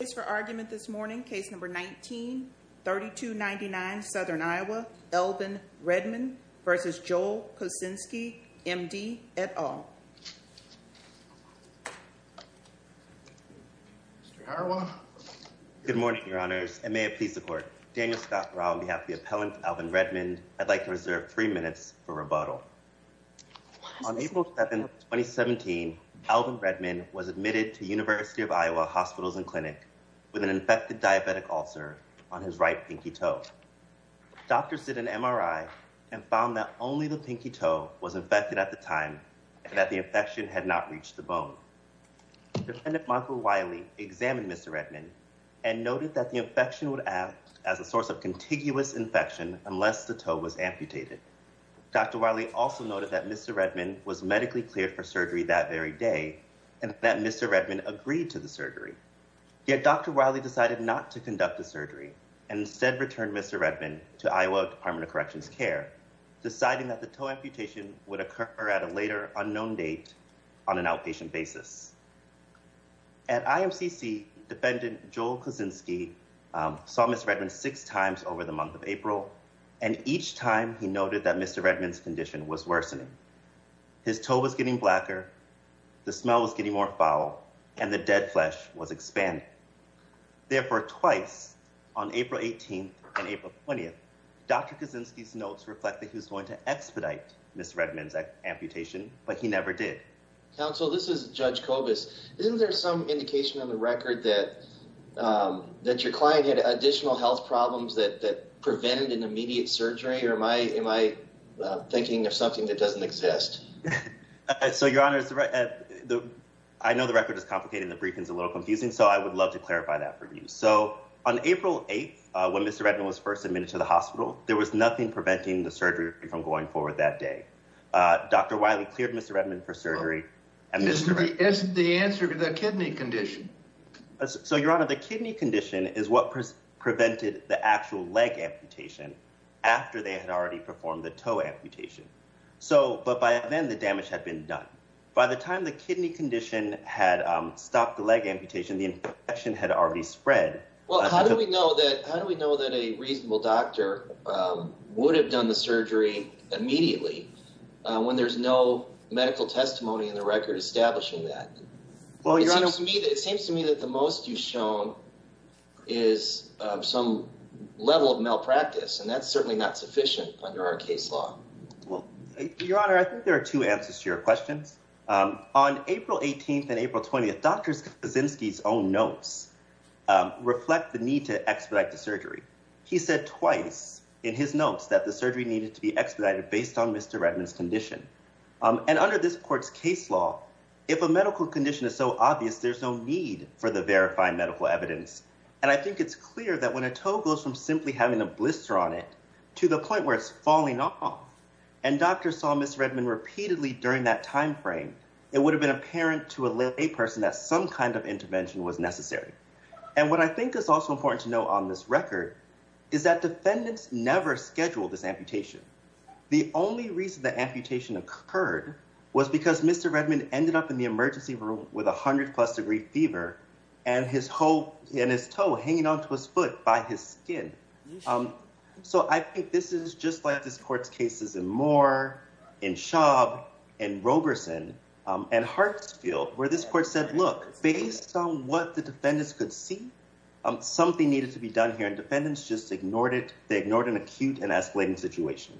on behalf of the appellant Alvin Redmond, I'd like to reserve three minutes for rebuttal. On April 7, 2017, Alvin Redmond was admitted to University of Iowa Hospitals and Clinic with an infected diabetic ulcer on his right pinky toe. Doctors did an MRI and found that only the pinky toe was infected at the time and that the infection had not reached the bone. Defendant Michael Wiley examined Mr. Redmond and noted that the infection would act as a contiguous infection unless the toe was amputated. Dr. Wiley also noted that Mr. Redmond was medically cleared for surgery that very day and that Mr. Redmond agreed to the surgery. Yet Dr. Wiley decided not to conduct the surgery and instead returned Mr. Redmond to Iowa Department of Corrections Care, deciding that the toe amputation would occur at a later unknown date on an outpatient basis. At IMCC, defendant Joel Kosinski saw Mr. Redmond six times over the month of April and each time he noted that Mr. Redmond's condition was worsening. His toe was getting blacker, the smell was getting more foul, and the dead flesh was expanding. Therefore, twice on April 18 and April 20, Dr. Kosinski's notes reflect that he was going to expedite Mr. Redmond's amputation, but he never did. Counsel, this is Judge Kobus. Isn't there some indication on the record that your client had additional health problems that prevented an immediate surgery, or am I thinking of something that doesn't exist? So, Your Honor, I know the record is complicated and the briefing is a little confusing, so I would love to clarify that for you. So, on April 8th, when Mr. Redmond was first admitted to the hospital, there was nothing preventing the amputation. So, Your Honor, the kidney condition is what prevented the actual leg amputation after they had already performed the toe amputation. But by then, the damage had been done. By the time the kidney condition had stopped the leg amputation, the infection had already spread. Well, how do we know that a reasonable doctor would have done the surgery immediately when there's no medical testimony in the record establishing that? Well, Your Honor— It seems to me that the most you've shown is some level of malpractice, and that's certainly not sufficient under our case law. Well, Your Honor, I think there are two answers to your questions. On April 18th and April 20th, Dr. Kosinski's own notes reflect the need to expedite the surgery. He said twice in his notes that the surgery needed to be expedited based on Mr. Redmond's condition. And under this court's case law, if a medical condition is so obvious, there's no need for the verifying medical evidence. And I think it's clear that when a toe goes from simply having a blister on it to the point where it's falling off, and doctors saw Mr. Redmond repeatedly during that time frame, it would have been apparent to a layperson that some kind of intervention was necessary. And what I think is also important to note on this record is that defendants never scheduled this amputation. The only reason the amputation occurred was because Mr. Redmond ended up in the emergency room with a hundred-plus degree fever and his toe hanging onto his foot by his skin. So I think this is just like this court's cases in Moore, in Schaub, in Roberson, and Hartsfield, where this court said, look, based on what the defendants could see, something needed to be done here. And defendants just ignored it. They ignored an acute and escalating situation.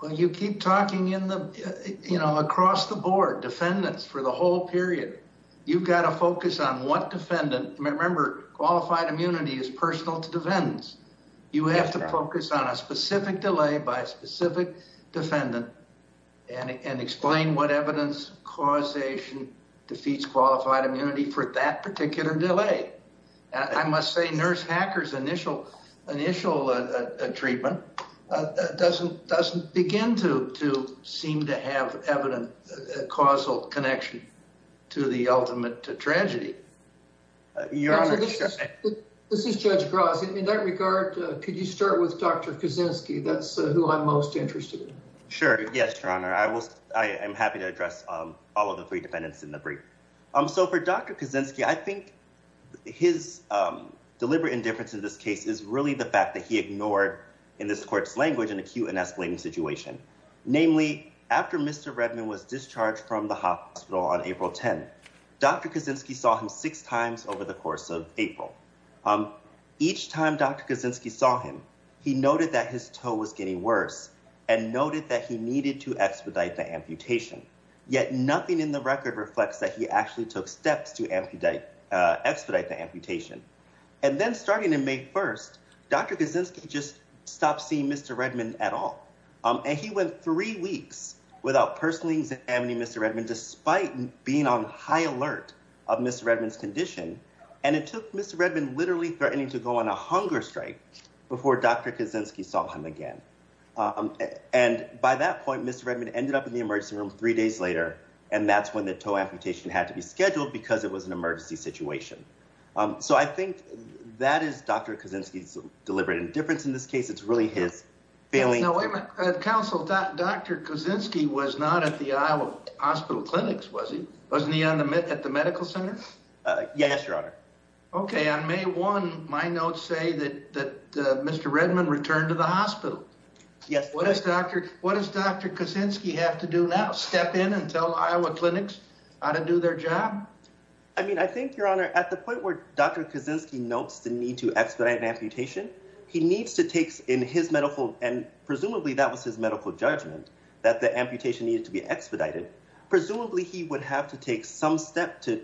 Well, you keep talking in the, you know, across the board, defendants for the whole period. You've got to focus on what defendant, remember qualified immunity is personal to defendants. You have to focus on a specific delay by a specific defendant and explain what causation defeats qualified immunity for that particular delay. I must say Nurse Hacker's initial treatment doesn't begin to seem to have evident causal connection to the ultimate tragedy. This is Judge Gross. In that regard, could you start with Dr. Kuczynski? That's who I'm most interested to address all of the three defendants in the brief. So for Dr. Kuczynski, I think his deliberate indifference in this case is really the fact that he ignored, in this court's language, an acute and escalating situation. Namely, after Mr. Redman was discharged from the hospital on April 10th, Dr. Kuczynski saw him six times over the course of April. Each time Dr. Kuczynski saw him, he noted that his toe was getting worse and noted that he needed to expedite the amputation. Yet nothing in the record reflects that he actually took steps to expedite the amputation. And then starting in May 1st, Dr. Kuczynski just stopped seeing Mr. Redman at all. And he went three weeks without personally examining Mr. Redman, despite being on high alert of Mr. Redman's condition. And it took Mr. Redman literally threatening to go on a hunger strike before Dr. Kuczynski saw him again. And by that point, Mr. Redman ended up in the emergency room three days later. And that's when the toe amputation had to be scheduled because it was an emergency situation. So I think that is Dr. Kuczynski's deliberate indifference in this case. It's really his failing... Now wait a minute. Counsel, Dr. Kuczynski was not at the Iowa hospital clinics, was he? Wasn't he at the medical center? Yes, Your Honor. Okay. On May 1, my notes say that Mr. Redman returned to the hospital. Yes. What does Dr. Kuczynski have to do now? Step in and tell Iowa clinics how to do their job? I mean, I think, Your Honor, at the point where Dr. Kuczynski notes the need to expedite an amputation, he needs to take in his medical... And presumably that was his medical judgment, that the amputation needed to be expedited. Presumably he would have to take some step to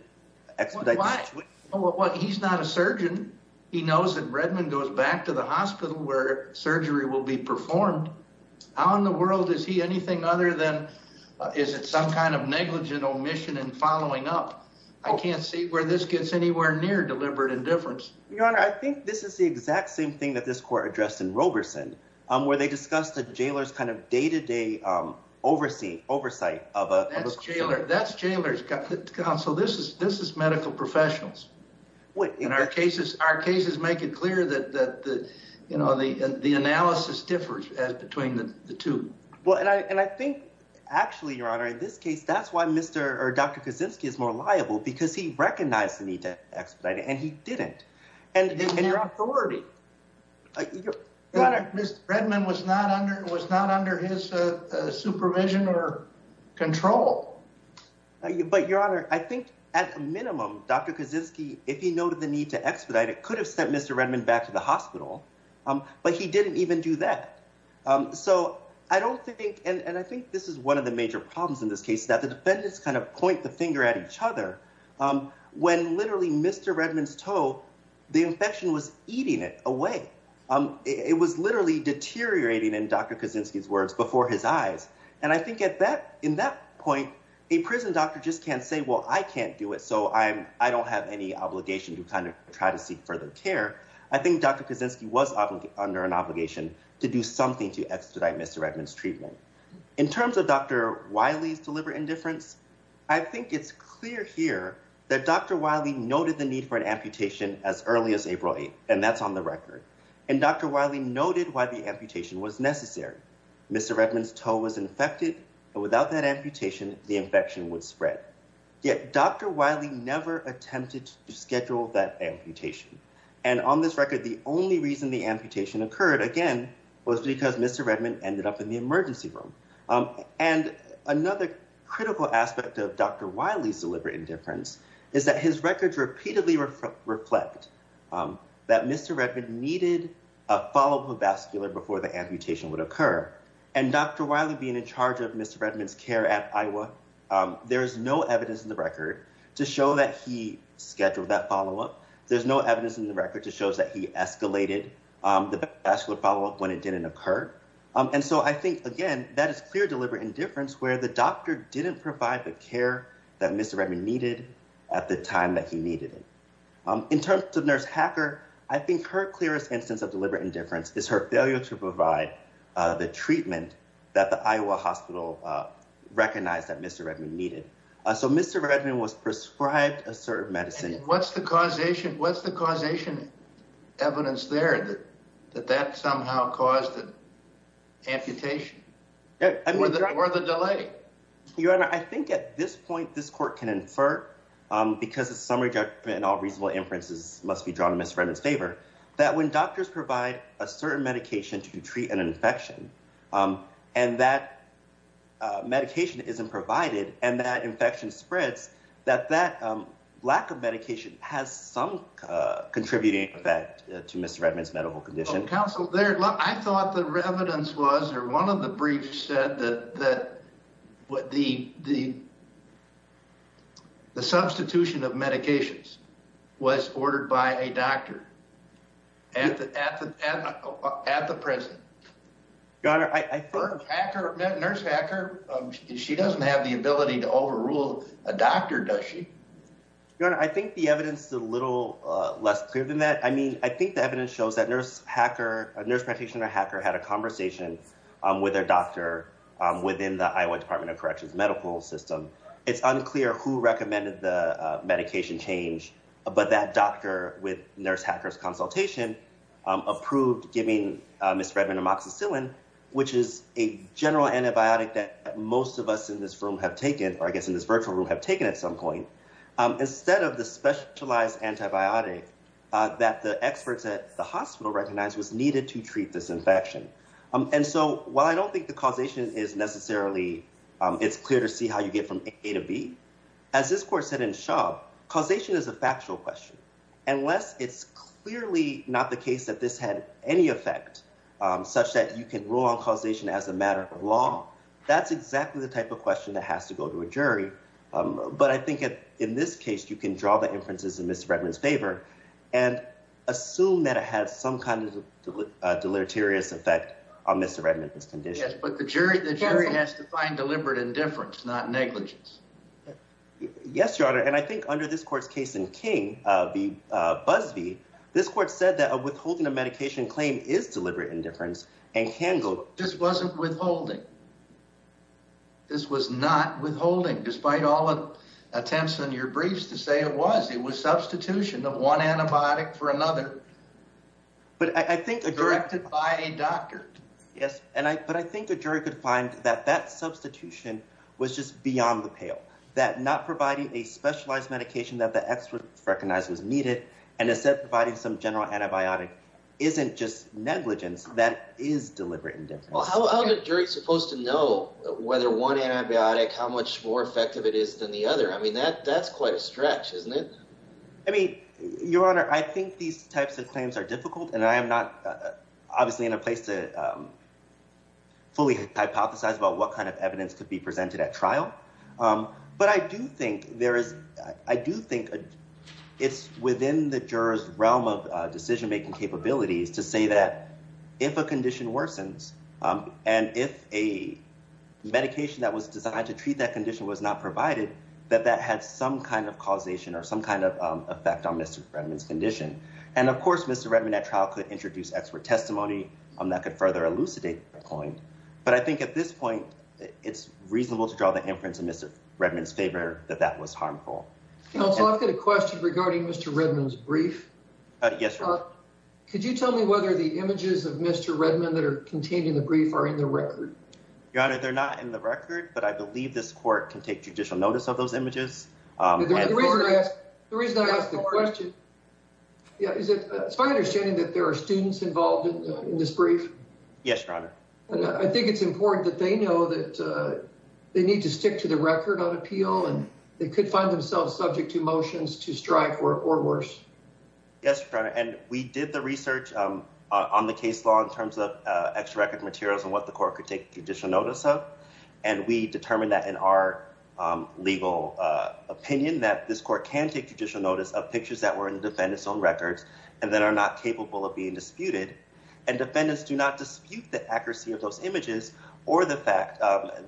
expedite... Why? He's not a surgeon. He knows that Redman goes back to the hospital where surgery will be performed. How in the world is he anything other than... Is it some kind of negligent omission and following up? I can't see where this gets anywhere near deliberate indifference. Your Honor, I think this is the exact same thing that this court addressed in Roberson, where they discussed the jailer's kind of day-to-day oversight of a... That's jailer's... Counsel, this is medical professionals. In our cases, our cases make it clear that the analysis differs as between the two. Well, and I think actually, Your Honor, in this case, that's why Dr. Kuczynski is more liable, because he recognized the need to expedite it, and he didn't. And your authority... Your Honor, Mr. Redman was not under his supervision or control. But, Your Honor, I think at a minimum, Dr. Kuczynski, if he noted the need to expedite, it could have sent Mr. Redman back to the hospital, but he didn't even do that. So I don't think... And I think this is one of the major problems in this case, that the defendants kind of point the finger at each other when literally Mr. Redman's toe, the infection was eating it away. It was literally deteriorating, in Dr. Kuczynski's words, before his eyes. And I think in that point, a prison doctor just can't say, well, I can't do it, so I don't have any obligation to kind of try to seek further care. I think Dr. Kuczynski was under an obligation to do something to expedite Mr. Redman's treatment. In terms of Dr. Wiley's deliberate indifference, I think it's clear here that Dr. Wiley noted the need for an amputation as early as April 8th, and that's on the record. And Dr. Wiley noted why the amputation was necessary. Mr. Redman's toe was infected, but without that amputation, the infection would spread. Yet Dr. Wiley never attempted to schedule that amputation. And on this record, the only reason the amputation occurred, again, was because Mr. Redman ended up in the emergency room. And another critical aspect of Dr. Wiley's deliberate indifference is that his records repeatedly reflect that Mr. Redman needed a follow-up vascular before the amputation would occur. And Dr. Wiley being in charge of Mr. Redman's care at Iowa, there is no evidence in the record to show that he scheduled that follow-up. There's no evidence in the record to show that he escalated the vascular follow-up when it didn't occur. And so I think, again, that is clear deliberate indifference where the doctor didn't provide the care that Mr. Redman needed at the time that he needed it. In terms of Nurse Hacker, I think her clearest instance of deliberate indifference is her failure to provide the treatment that the Iowa hospital recognized that Mr. Redman needed. So Mr. Redman was prescribed a certain medicine. And what's the causation evidence there that that somehow caused the amputation or the delay? Your Honor, I think at this point, this court can infer, because it's summary judgment and all reasonable inferences must be drawn in Mr. Redman's favor, that when doctors provide a certain medication to treat an infection and that medication isn't provided and that infection spreads, that that lack of medication has some contributing effect to Mr. Redman's medical condition. Counsel, I thought the evidence was or one of the briefs said that the substitution of medications was ordered by a doctor at the present. Your Honor, I think... Nurse Hacker, she doesn't have the ability to overrule a doctor, does she? Your Honor, I think the evidence is a little less clear than that. I mean, I think the evidence shows that Nurse Hacker, Nurse Practitioner Hacker had a conversation with their doctor within the Iowa Department of Corrections medical system. It's unclear who recommended the medication change, but that doctor with Nurse Hacker's consultation approved giving Mr. Redman amoxicillin, which is a general antibiotic that most of us in this room have taken, or I guess in this virtual room have taken at some point, instead of the specialized antibiotic that the experts at the hospital recognized was needed to treat this infection. And so while I don't think the causation is necessarily, it's clear to see how you get from A to B, as this court said in Schaub, causation is a factual question. Unless it's clearly not the case that this had any effect, such that you can rule on causation as a matter of law, that's exactly the type of question that but I think in this case, you can draw the inferences in Mr. Redman's favor and assume that it has some kind of deleterious effect on Mr. Redman's condition. But the jury has to find deliberate indifference, not negligence. Yes, Your Honor. And I think under this court's case in King v. Busby, this court said that a withholding of medication claim is deliberate indifference and can go... This wasn't withholding. This was not withholding, despite all the attempts on your briefs to say it was. It was substitution of one antibiotic for another, directed by a doctor. Yes, but I think the jury could find that that substitution was just beyond the pale, that not providing a specialized medication that the experts recognized was needed, and instead providing some general antibiotic isn't just negligence, that is deliberate indifference. Well, how are the juries supposed to know whether one antibiotic, how much more effective it is than the other? I mean, that's quite a stretch, isn't it? I mean, Your Honor, I think these types of claims are difficult, and I am not obviously in a place to fully hypothesize about what kind of evidence could be presented at trial. But I do think there is... I do think it's within the juror's realm of decision-making capabilities to say that if a condition worsens and if a medication that was designed to treat that condition was not provided, that that had some kind of causation or some kind of effect on Mr. Redmond's condition. And of course, Mr. Redmond at trial could introduce expert testimony that could further elucidate the point. But I think at this point, it's reasonable to inference in Mr. Redmond's favor that that was harmful. Counsel, I've got a question regarding Mr. Redmond's brief. Yes, Your Honor. Could you tell me whether the images of Mr. Redmond that are contained in the brief are in the record? Your Honor, they're not in the record, but I believe this court can take judicial notice of those images. The reason I ask the question... It's my understanding that there are students involved in this brief. Yes, Your Honor. I think it's important that they know that they need to stick to the record on appeal, and they could find themselves subject to motions to strike or worse. Yes, Your Honor. And we did the research on the case law in terms of extra record materials and what the court could take judicial notice of. And we determined that in our legal opinion, that this court can take judicial notice of pictures that were in the defendant's own records and that are not capable of being disputed. And defendants do not dispute the accuracy of those images or the fact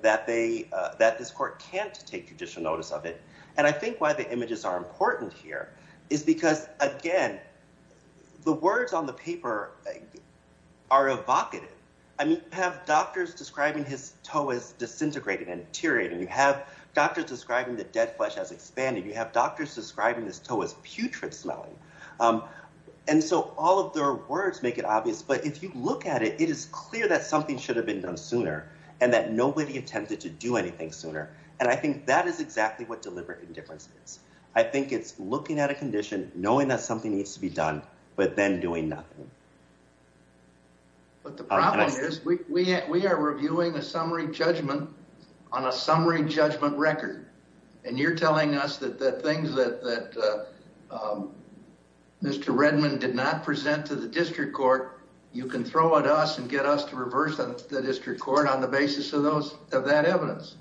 that this court can't take judicial notice of it. And I think why the images are important here is because, again, the words on the paper are evocative. I mean, you have doctors describing his toe as disintegrating and deteriorating. You have doctors describing the dead flesh as expanding. You have doctors describing his toe as putrid smelling. And so all of their words make it obvious. But if you look at it, it is clear that something should have been done sooner and that nobody attempted to do anything sooner. And I think that is exactly what deliberate indifference is. I think it's looking at a condition, knowing that something needs to be done, but then doing nothing. But the problem is we are reviewing a summary judgment on a summary judgment record. And you're telling us that the things that Mr. Redmond did not present to the district court, you can throw at us and get us to reverse the district court on the basis of that evidence.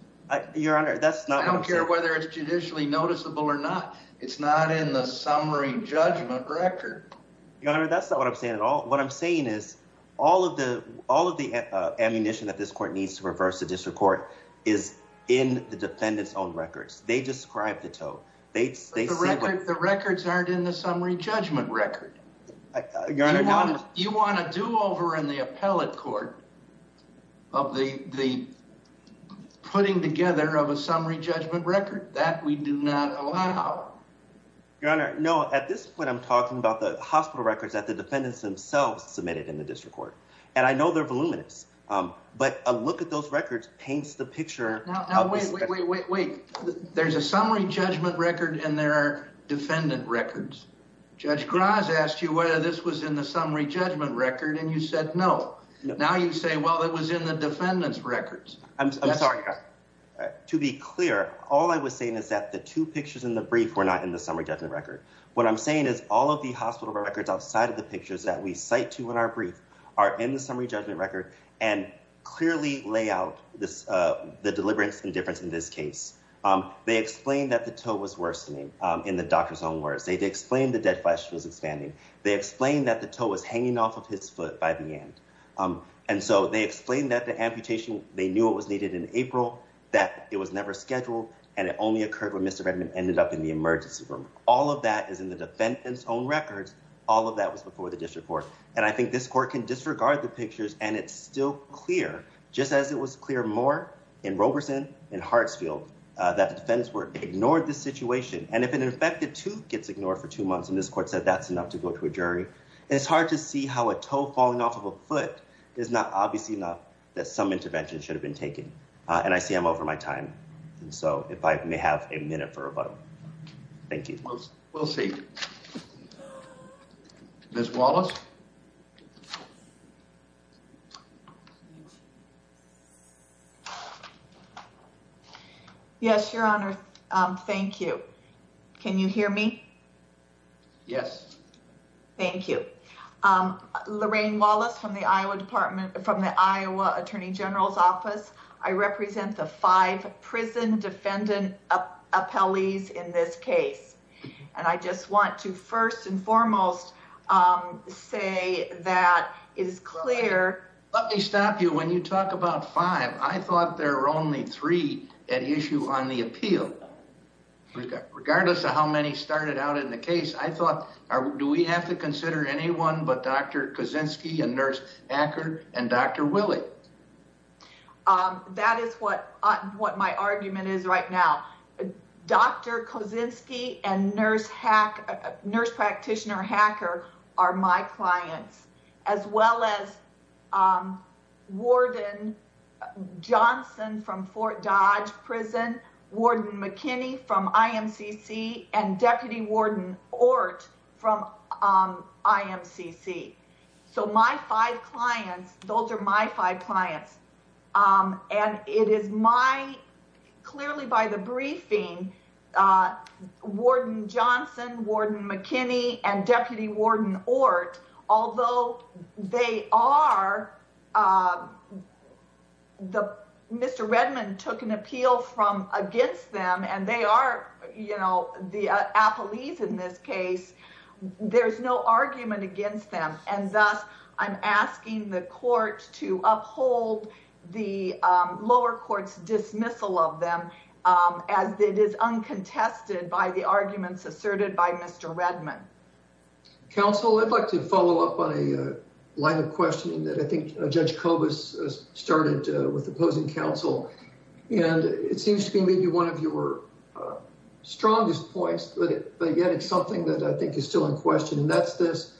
Your Honor, that's not what I'm saying. I don't care whether it's judicially noticeable or not. It's not in the summary judgment record. Your Honor, that's not what I'm saying at all. What I'm saying is all of the ammunition that this court needs to reverse the district court is in the defendant's own records. They describe the toe. The records aren't in the summary judgment record. You want a do-over in the appellate court of the putting together of a summary judgment record? That we do not allow. Your Honor, no. At this point, I'm talking about the hospital records that the defendants themselves submitted in the district court. And I know they're voluminous. But a look at those pictures. Wait, wait, wait, wait. There's a summary judgment record and there are defendant records. Judge Graz asked you whether this was in the summary judgment record and you said no. Now you say, well, it was in the defendant's records. I'm sorry, Your Honor. To be clear, all I was saying is that the two pictures in the brief were not in the summary judgment record. What I'm saying is all of the hospital records outside of the pictures that we cite to in our and clearly lay out the deliverance and difference in this case. They explained that the toe was worsening in the doctor's own words. They explained the dead flesh was expanding. They explained that the toe was hanging off of his foot by the end. And so they explained that the amputation, they knew it was needed in April, that it was never scheduled and it only occurred when Mr. Redmond ended up in the emergency room. All of that is in the defendant's own records. All of that was before the district court. And I think this court can disregard the pictures and it's still clear, just as it was clear more in Roberson and Hartsfield that the defendants ignored the situation. And if an infected tooth gets ignored for two months, and this court said that's enough to go to a jury, it's hard to see how a toe falling off of a foot is not obviously enough that some intervention should have been taken. And I see I'm over my time. And so if I may have a minute for a vote. Thank you. We'll see. Ms. Wallace. Yes, your honor. Thank you. Can you hear me? Yes. Thank you. Lorraine Wallace from the Iowa from the Iowa attorney general's office. I represent the five prison defendant appellees in this case. And I just want to first and foremost say that is clear. Let me stop you. When you talk about five, I thought there were only three at issue on the appeal. Regardless of how many started out in the case, I thought, do we have to consider anyone but a nurse hacker and Dr. Willie? That is what what my argument is right now. Dr. Kosinski and nurse practitioner hacker are my clients, as well as Warden Johnson from Fort Dodge prison, Warden McKinney from IMCC and Deputy Warden Ort from IMCC. So my five clients, those are my five clients. And it is my clearly by the briefing, Warden Johnson, Warden McKinney and Deputy Warden Ort, although they are the Mr. Redmond took an appeal from against them and they are, you know, the appellees in this case, there's no argument against them. And thus I'm asking the court to uphold the lower court's dismissal of them as it is uncontested by the arguments asserted by Mr. Redmond. Counsel, I'd like to follow up on a line of questioning that I think Judge Kobus started with the opposing counsel. And it seems to be maybe one of your strongest points, but yet it's something that I think is still in question. And that's this.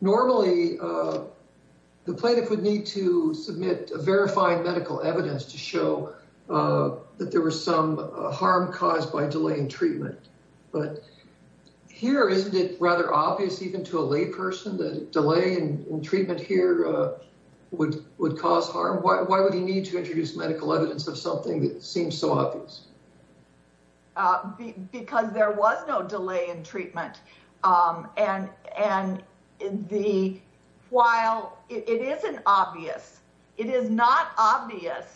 Normally the plaintiff would need to submit a verified medical evidence to show that there was some harm caused by delay in treatment. But here, isn't it rather obvious even to a lay person that delay in treatment here would cause harm? Why would he need to introduce medical evidence of something that seems so obvious? Because there was no delay in treatment. And while it isn't obvious, it is not obvious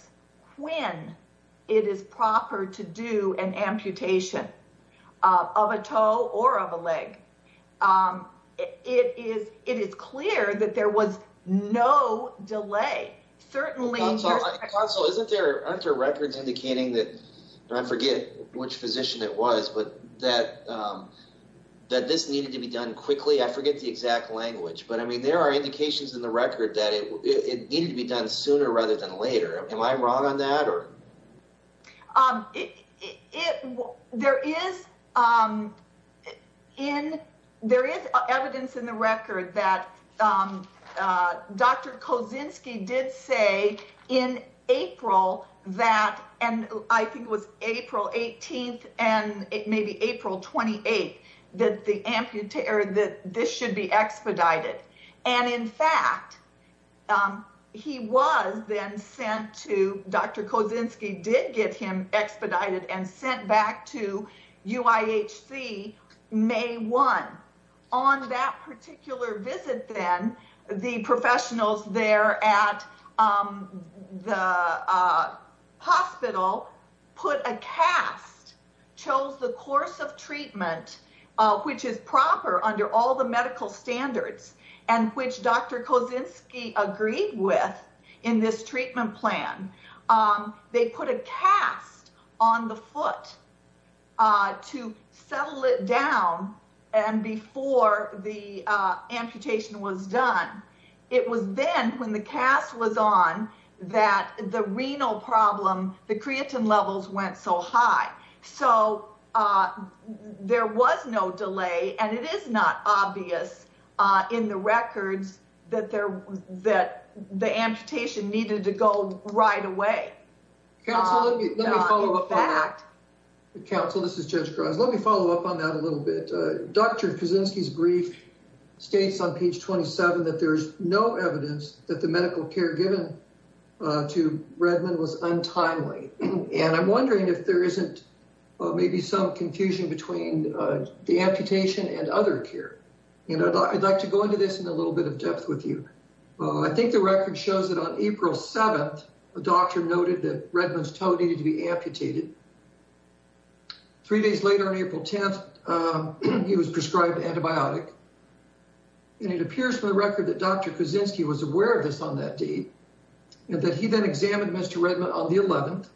when it is proper to do an amputation of a toe or of a leg. It is clear that there was no delay. Certainly... Counsel, aren't there records indicating that, I forget which physician it was, but that that this needed to be done quickly? I forget the exact language. But I mean, there are indications in the record that it needed to be done sooner rather than later. Am I wrong on that? Sure. There is evidence in the record that Dr. Kozinski did say in April that, and I think it was April 18th and maybe April 28th, that this should be expedited. And in fact, he was then to... Dr. Kozinski did get him expedited and sent back to UIHC May 1. On that particular visit then, the professionals there at the hospital put a cast, chose the course of treatment, which is proper under all the medical standards, and which Dr. Kozinski agreed with in this treatment plan. They put a cast on the foot to settle it down. And before the amputation was done, it was then when the cast was on that the renal problem, the creatine levels went so high. So there was no delay, and it is not obvious in the records that the amputation needed to go right away. Counsel, let me follow up on that. Counsel, this is Judge Grimes. Let me follow up on that a little bit. Dr. Kozinski's brief states on page 27 that there's no evidence that the may be some confusion between the amputation and other care. And I'd like to go into this in a little bit of depth with you. I think the record shows that on April 7th, a doctor noted that Redmond's toe needed to be amputated. Three days later, on April 10th, he was prescribed antibiotic. And it appears from the record that Dr. Kozinski was aware of this on that date, that he then examined Mr. Redmond on the 11th,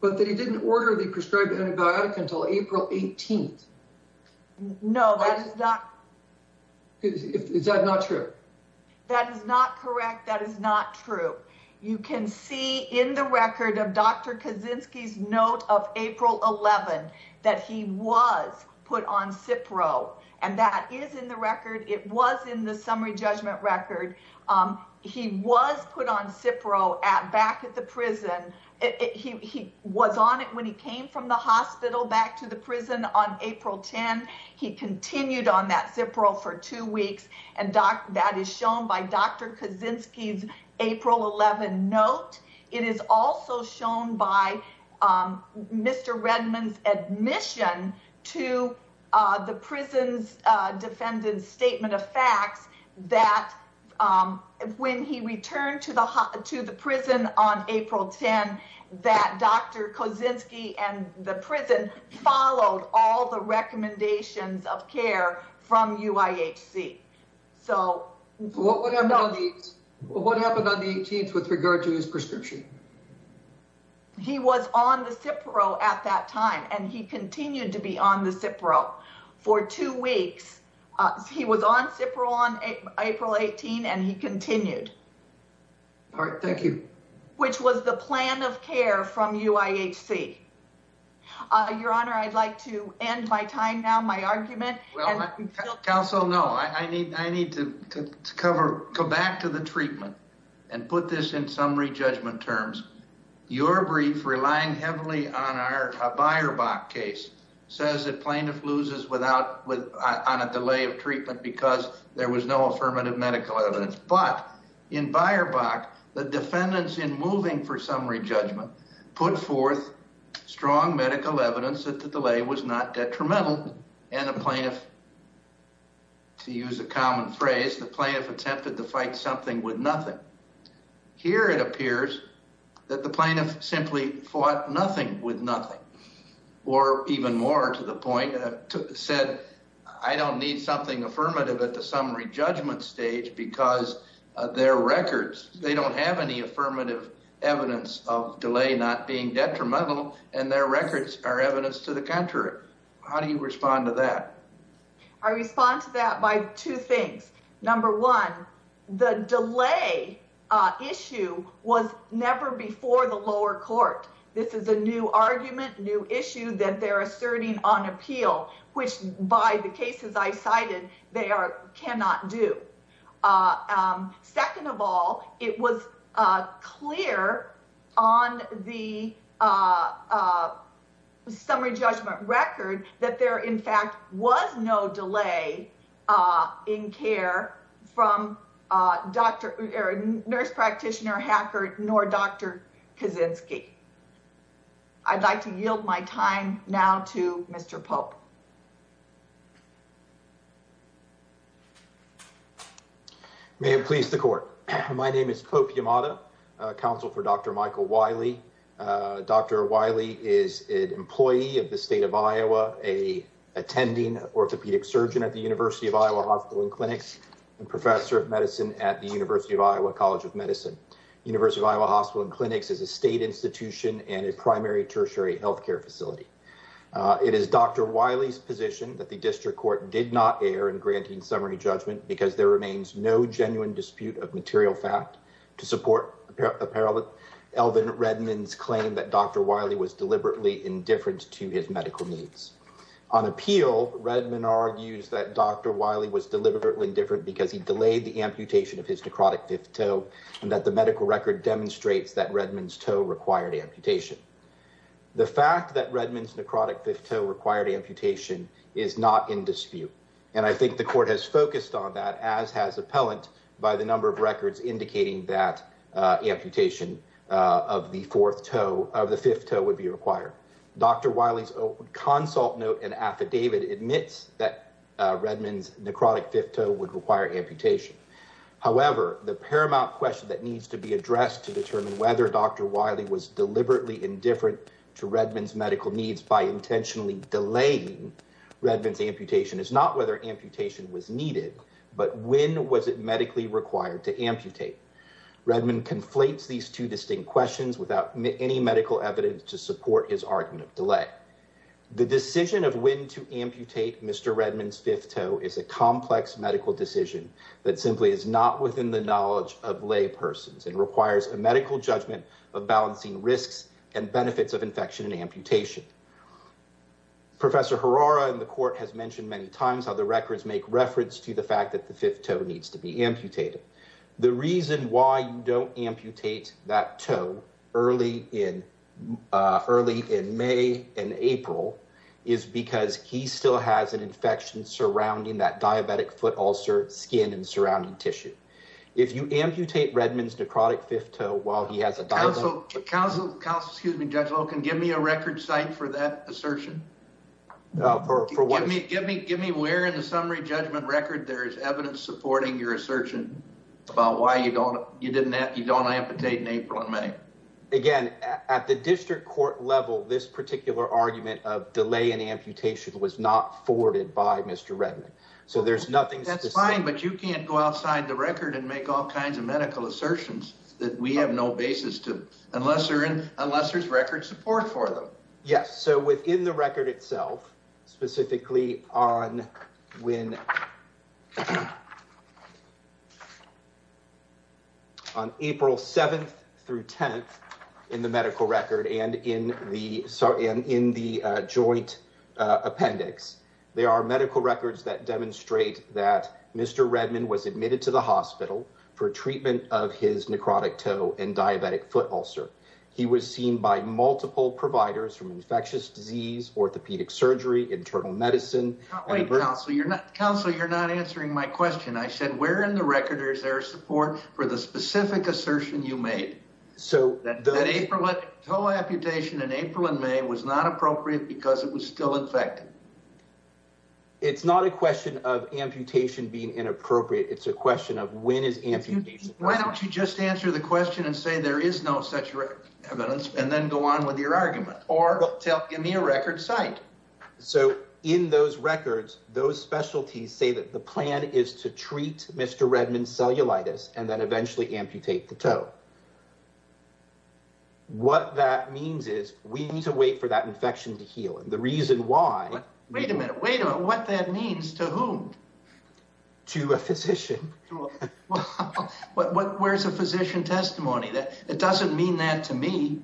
but that he didn't order the prescribed antibiotic until April 18th. No, that is not. Is that not true? That is not correct. That is not true. You can see in the record of Dr. Kozinski's note of April 11th that he was put on Cipro. And that is in the record. It was in the summary judgment record. He was put on Cipro back at the prison. He was on it when he came from the hospital back to the prison on April 10. He continued on that Cipro for two weeks. And that is shown by Dr. Kozinski's April 11 note. It is also shown by Mr. Redmond's admission to the prison's defendant's statement of facts that when he returned to the prison on April 10, that Dr. Kozinski and the prison followed all the recommendations of care from UIHC. So what happened on the 18th with regard to his prescription? He was on the Cipro at that time and he continued to be on the Cipro for two weeks. He was on Cipro on April 18 and he continued. All right. Thank you. Which was the plan of care from UIHC. Your Honor, I'd like to end my time now, my argument. Counsel, no, I need to cover, go back to the treatment and put this in summary judgment terms. Your brief, relying heavily on our Beierbach case, says that plaintiff loses on a delay of treatment because there was no affirmative medical evidence. But in Beierbach, the defendants in moving for summary judgment put forth strong medical evidence that the delay was not detrimental. And the plaintiff, to use a common phrase, the plaintiff attempted to fight something with nothing. Here it appears that the plaintiff simply fought nothing with nothing. Or even more to the point, said, I don't need something affirmative at the summary judgment stage because their records, they don't have any affirmative evidence of delay not being detrimental and their records are evidence to the contrary. How do you respond to that? I respond to that by two things. Number one, the delay issue was never before the lower court. This is a new argument, new issue that they're asserting on appeal, which by the cases I cited, they cannot do. Second of all, it was clear on the summary judgment record that there in fact was no delay in care from nurse practitioner Hackert nor Dr. Kaczynski. I'd like to yield my time now to Mr. Pope. May it please the court. My name is Pope Yamada, counsel for Dr. Michael Wiley. Dr. Wiley is an a attending orthopedic surgeon at the University of Iowa Hospital and Clinics and professor of medicine at the University of Iowa College of Medicine. University of Iowa Hospital and Clinics is a state institution and a primary tertiary healthcare facility. It is Dr. Wiley's position that the district court did not err in granting summary judgment because there remains no genuine dispute of material fact to support apparel. Elvin Redmond's claim that Dr. Wiley was indifferent because he delayed the amputation of his necrotic fifth toe and that the medical record demonstrates that Redmond's toe required amputation. The fact that Redmond's necrotic fifth toe required amputation is not in dispute. And I think the court has focused on that as has appellant by the number of records indicating that amputation of the fourth toe of the fifth would be required. Dr. Wiley's own consult note and affidavit admits that Redmond's necrotic fifth toe would require amputation. However, the paramount question that needs to be addressed to determine whether Dr. Wiley was deliberately indifferent to Redmond's medical needs by intentionally delaying Redmond's amputation is not whether amputation was needed, but when was it medically required to amputate. Redmond conflates these two distinct questions without any medical evidence to support his argument of delay. The decision of when to amputate Mr. Redmond's fifth toe is a complex medical decision that simply is not within the knowledge of lay persons and requires a medical judgment of balancing risks and benefits of infection and amputation. Professor Harara in the court has mentioned many times how the records make reference to the fact that the fifth toe needs to be amputated. The reason why you don't amputate that toe early in May and April is because he still has an infection surrounding that diabetic foot ulcer skin and surrounding tissue. If you amputate Redmond's necrotic fifth toe while he has a diabetic... Counsel, excuse me, Judge Loken, give me a record site for that assertion. Give me where in the summary judgment record there is evidence supporting your assertion about why you don't amputate in April and May. Again, at the district court level, this particular argument of delay in amputation was not forwarded by Mr. Redmond, so there's nothing... That's fine, but you can't go outside the record and make all kinds of medical assertions that we have no basis to unless there's record support for them. Yes, so within the record itself, specifically on April 7th through 10th in the medical record and in the joint appendix, there are medical records that demonstrate that Mr. Redmond was admitted to the hospital for treatment of his necrotic providers from infectious disease, orthopedic surgery, internal medicine... Wait, Counsel, you're not... Counsel, you're not answering my question. I said where in the record is there support for the specific assertion you made? So... That toe amputation in April and May was not appropriate because it was still infected. It's not a question of amputation being inappropriate. It's a question of when is amputation... Why don't you just answer the question and say there is no such evidence and then go on with your argument or give me a record site. So in those records, those specialties say that the plan is to treat Mr. Redmond's cellulitis and then eventually amputate the toe. What that means is we need to wait for that infection to heal and the reason why... Wait a minute. Wait a minute. What that means to whom? To a physician. Well, where's a physician testimony? That doesn't mean that to me.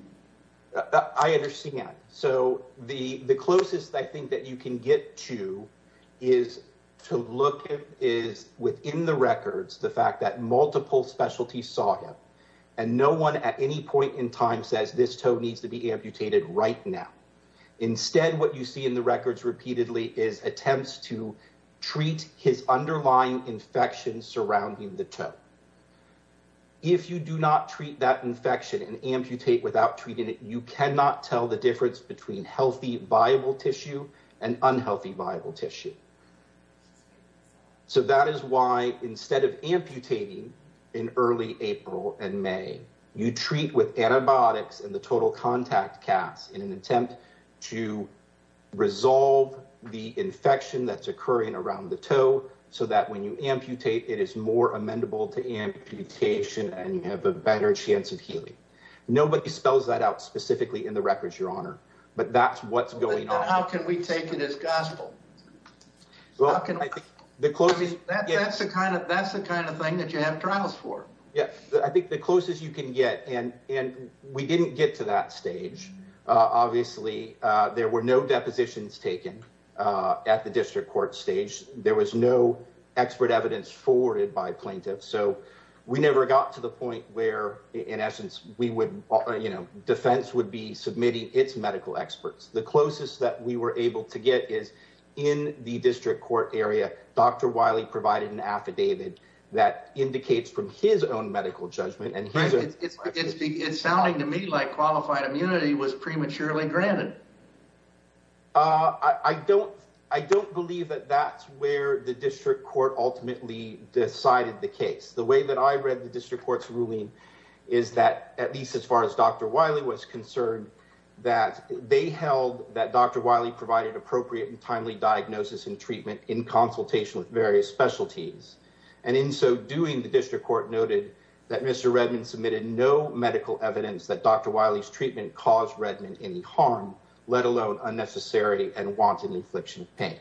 I understand. So the closest I think that you can get to is to look at is within the records the fact that multiple specialties saw him and no one at any point in time says this toe needs to be amputated right now. Instead, what you see in the records repeatedly is attempts to treat his underlying infection surrounding the toe. If you do not treat that infection and amputate without treating it, you cannot tell the difference between healthy viable tissue and unhealthy viable tissue. So that is why instead of amputating in early April and May, you treat with antibiotics and the total contact cast in an attempt to resolve the infection that's occurring around the toe so that when you amputate it is more amenable to amputation and you have a better chance of healing. Nobody spells that out specifically in the records, your honor, but that's what's going on. How can we take it as gospel? Well, I think the closest... That's the kind of thing that you have trials for. Yeah, I think the closest you can get and we didn't get to that stage. Obviously, there were no depositions taken at the district court stage. There was no expert evidence forwarded by plaintiffs. So we never got to the point where, in essence, defense would be submitting its medical experts. The closest that we were able to get is in the district court area, Dr. Wiley provided an affidavit that indicates from his own medical judgment. Right, it's sounding to me like qualified immunity was prematurely granted. I don't believe that that's where the district court ultimately decided the case. The way that I read the district court's ruling is that, at least as far as Dr. Wiley was concerned, that they held that Dr. Wiley provided appropriate and timely diagnosis and treatment in consultation with various specialties. And in so doing, the district court noted that Mr. Redmond submitted no medical evidence that Dr. Wiley's treatment caused Redmond any harm, let alone unnecessary and wanton infliction of pain.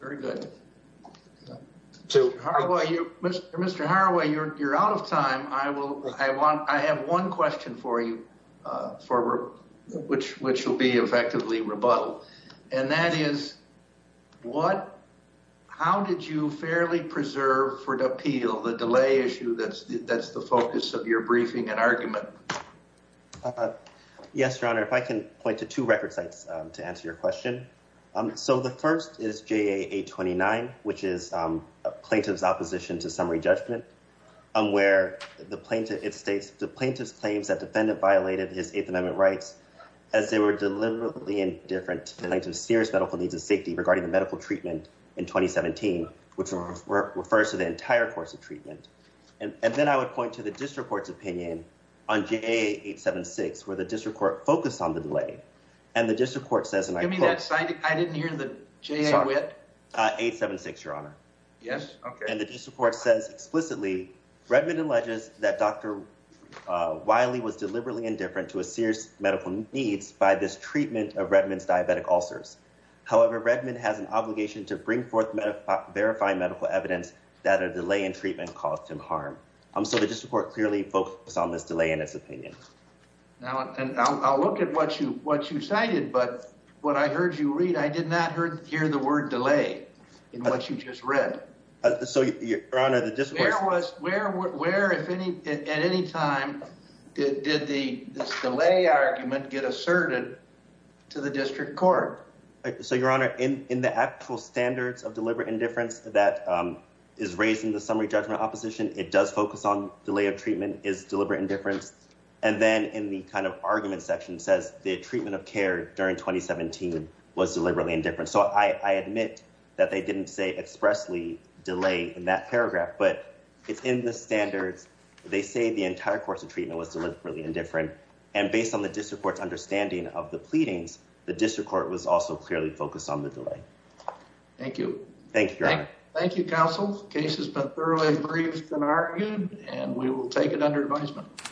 Very good. Mr. Haraway, you're out of time. I have one question for you, for which will be effectively rebuttal. And that is, how did you fairly preserve for the appeal, the delay issue that's the focus of your briefing and argument? Yes, Your Honor, if I can point to two record sites to answer your question. So the first is JA 829, which is a plaintiff's opposition to summary judgment, where it states, the plaintiff's claims that defendant violated his Eighth Amendment rights as they were deliberately indifferent to plaintiff's serious medical needs and safety regarding the medical treatment in 2017, which refers to the entire course of treatment. And then I would point to the district court's opinion on JA 876, where the district court focused on the delay. And the district court says, and I quote... Give me that site. I didn't hear the JA wit. 876, Your Honor. Yes. Okay. And the district court says explicitly, Redmond alleges that Dr. Wiley was deliberately indifferent to his serious medical needs by this treatment of Redmond's diabetic ulcers. However, Redmond has an obligation to bring forth verifying medical evidence that a delay in treatment caused him harm. So the district court clearly focused on this delay in its opinion. Now, and I'll look at what you cited, but what I heard you read, I did not hear the word delay in what you just read. So, Your Honor, the district court... Where at any time did this delay argument get asserted to the district court? So, Your Honor, in the actual standards of deliberate indifference that is raised in the summary judgment opposition, it does focus on delay of treatment is deliberate indifference. And then in the kind of argument section says the treatment of care during 2017 was deliberately indifferent. So I admit that they didn't say expressly delay in that paragraph, but it's in the standards. They say the entire course of treatment was deliberately indifferent. And based on the district court's understanding of the pleadings, the district court was also clearly focused on the delay. Thank you. Thank you, Your Honor. Thank you, counsel. The case has been thoroughly briefed and argued, and we will take it under advisement.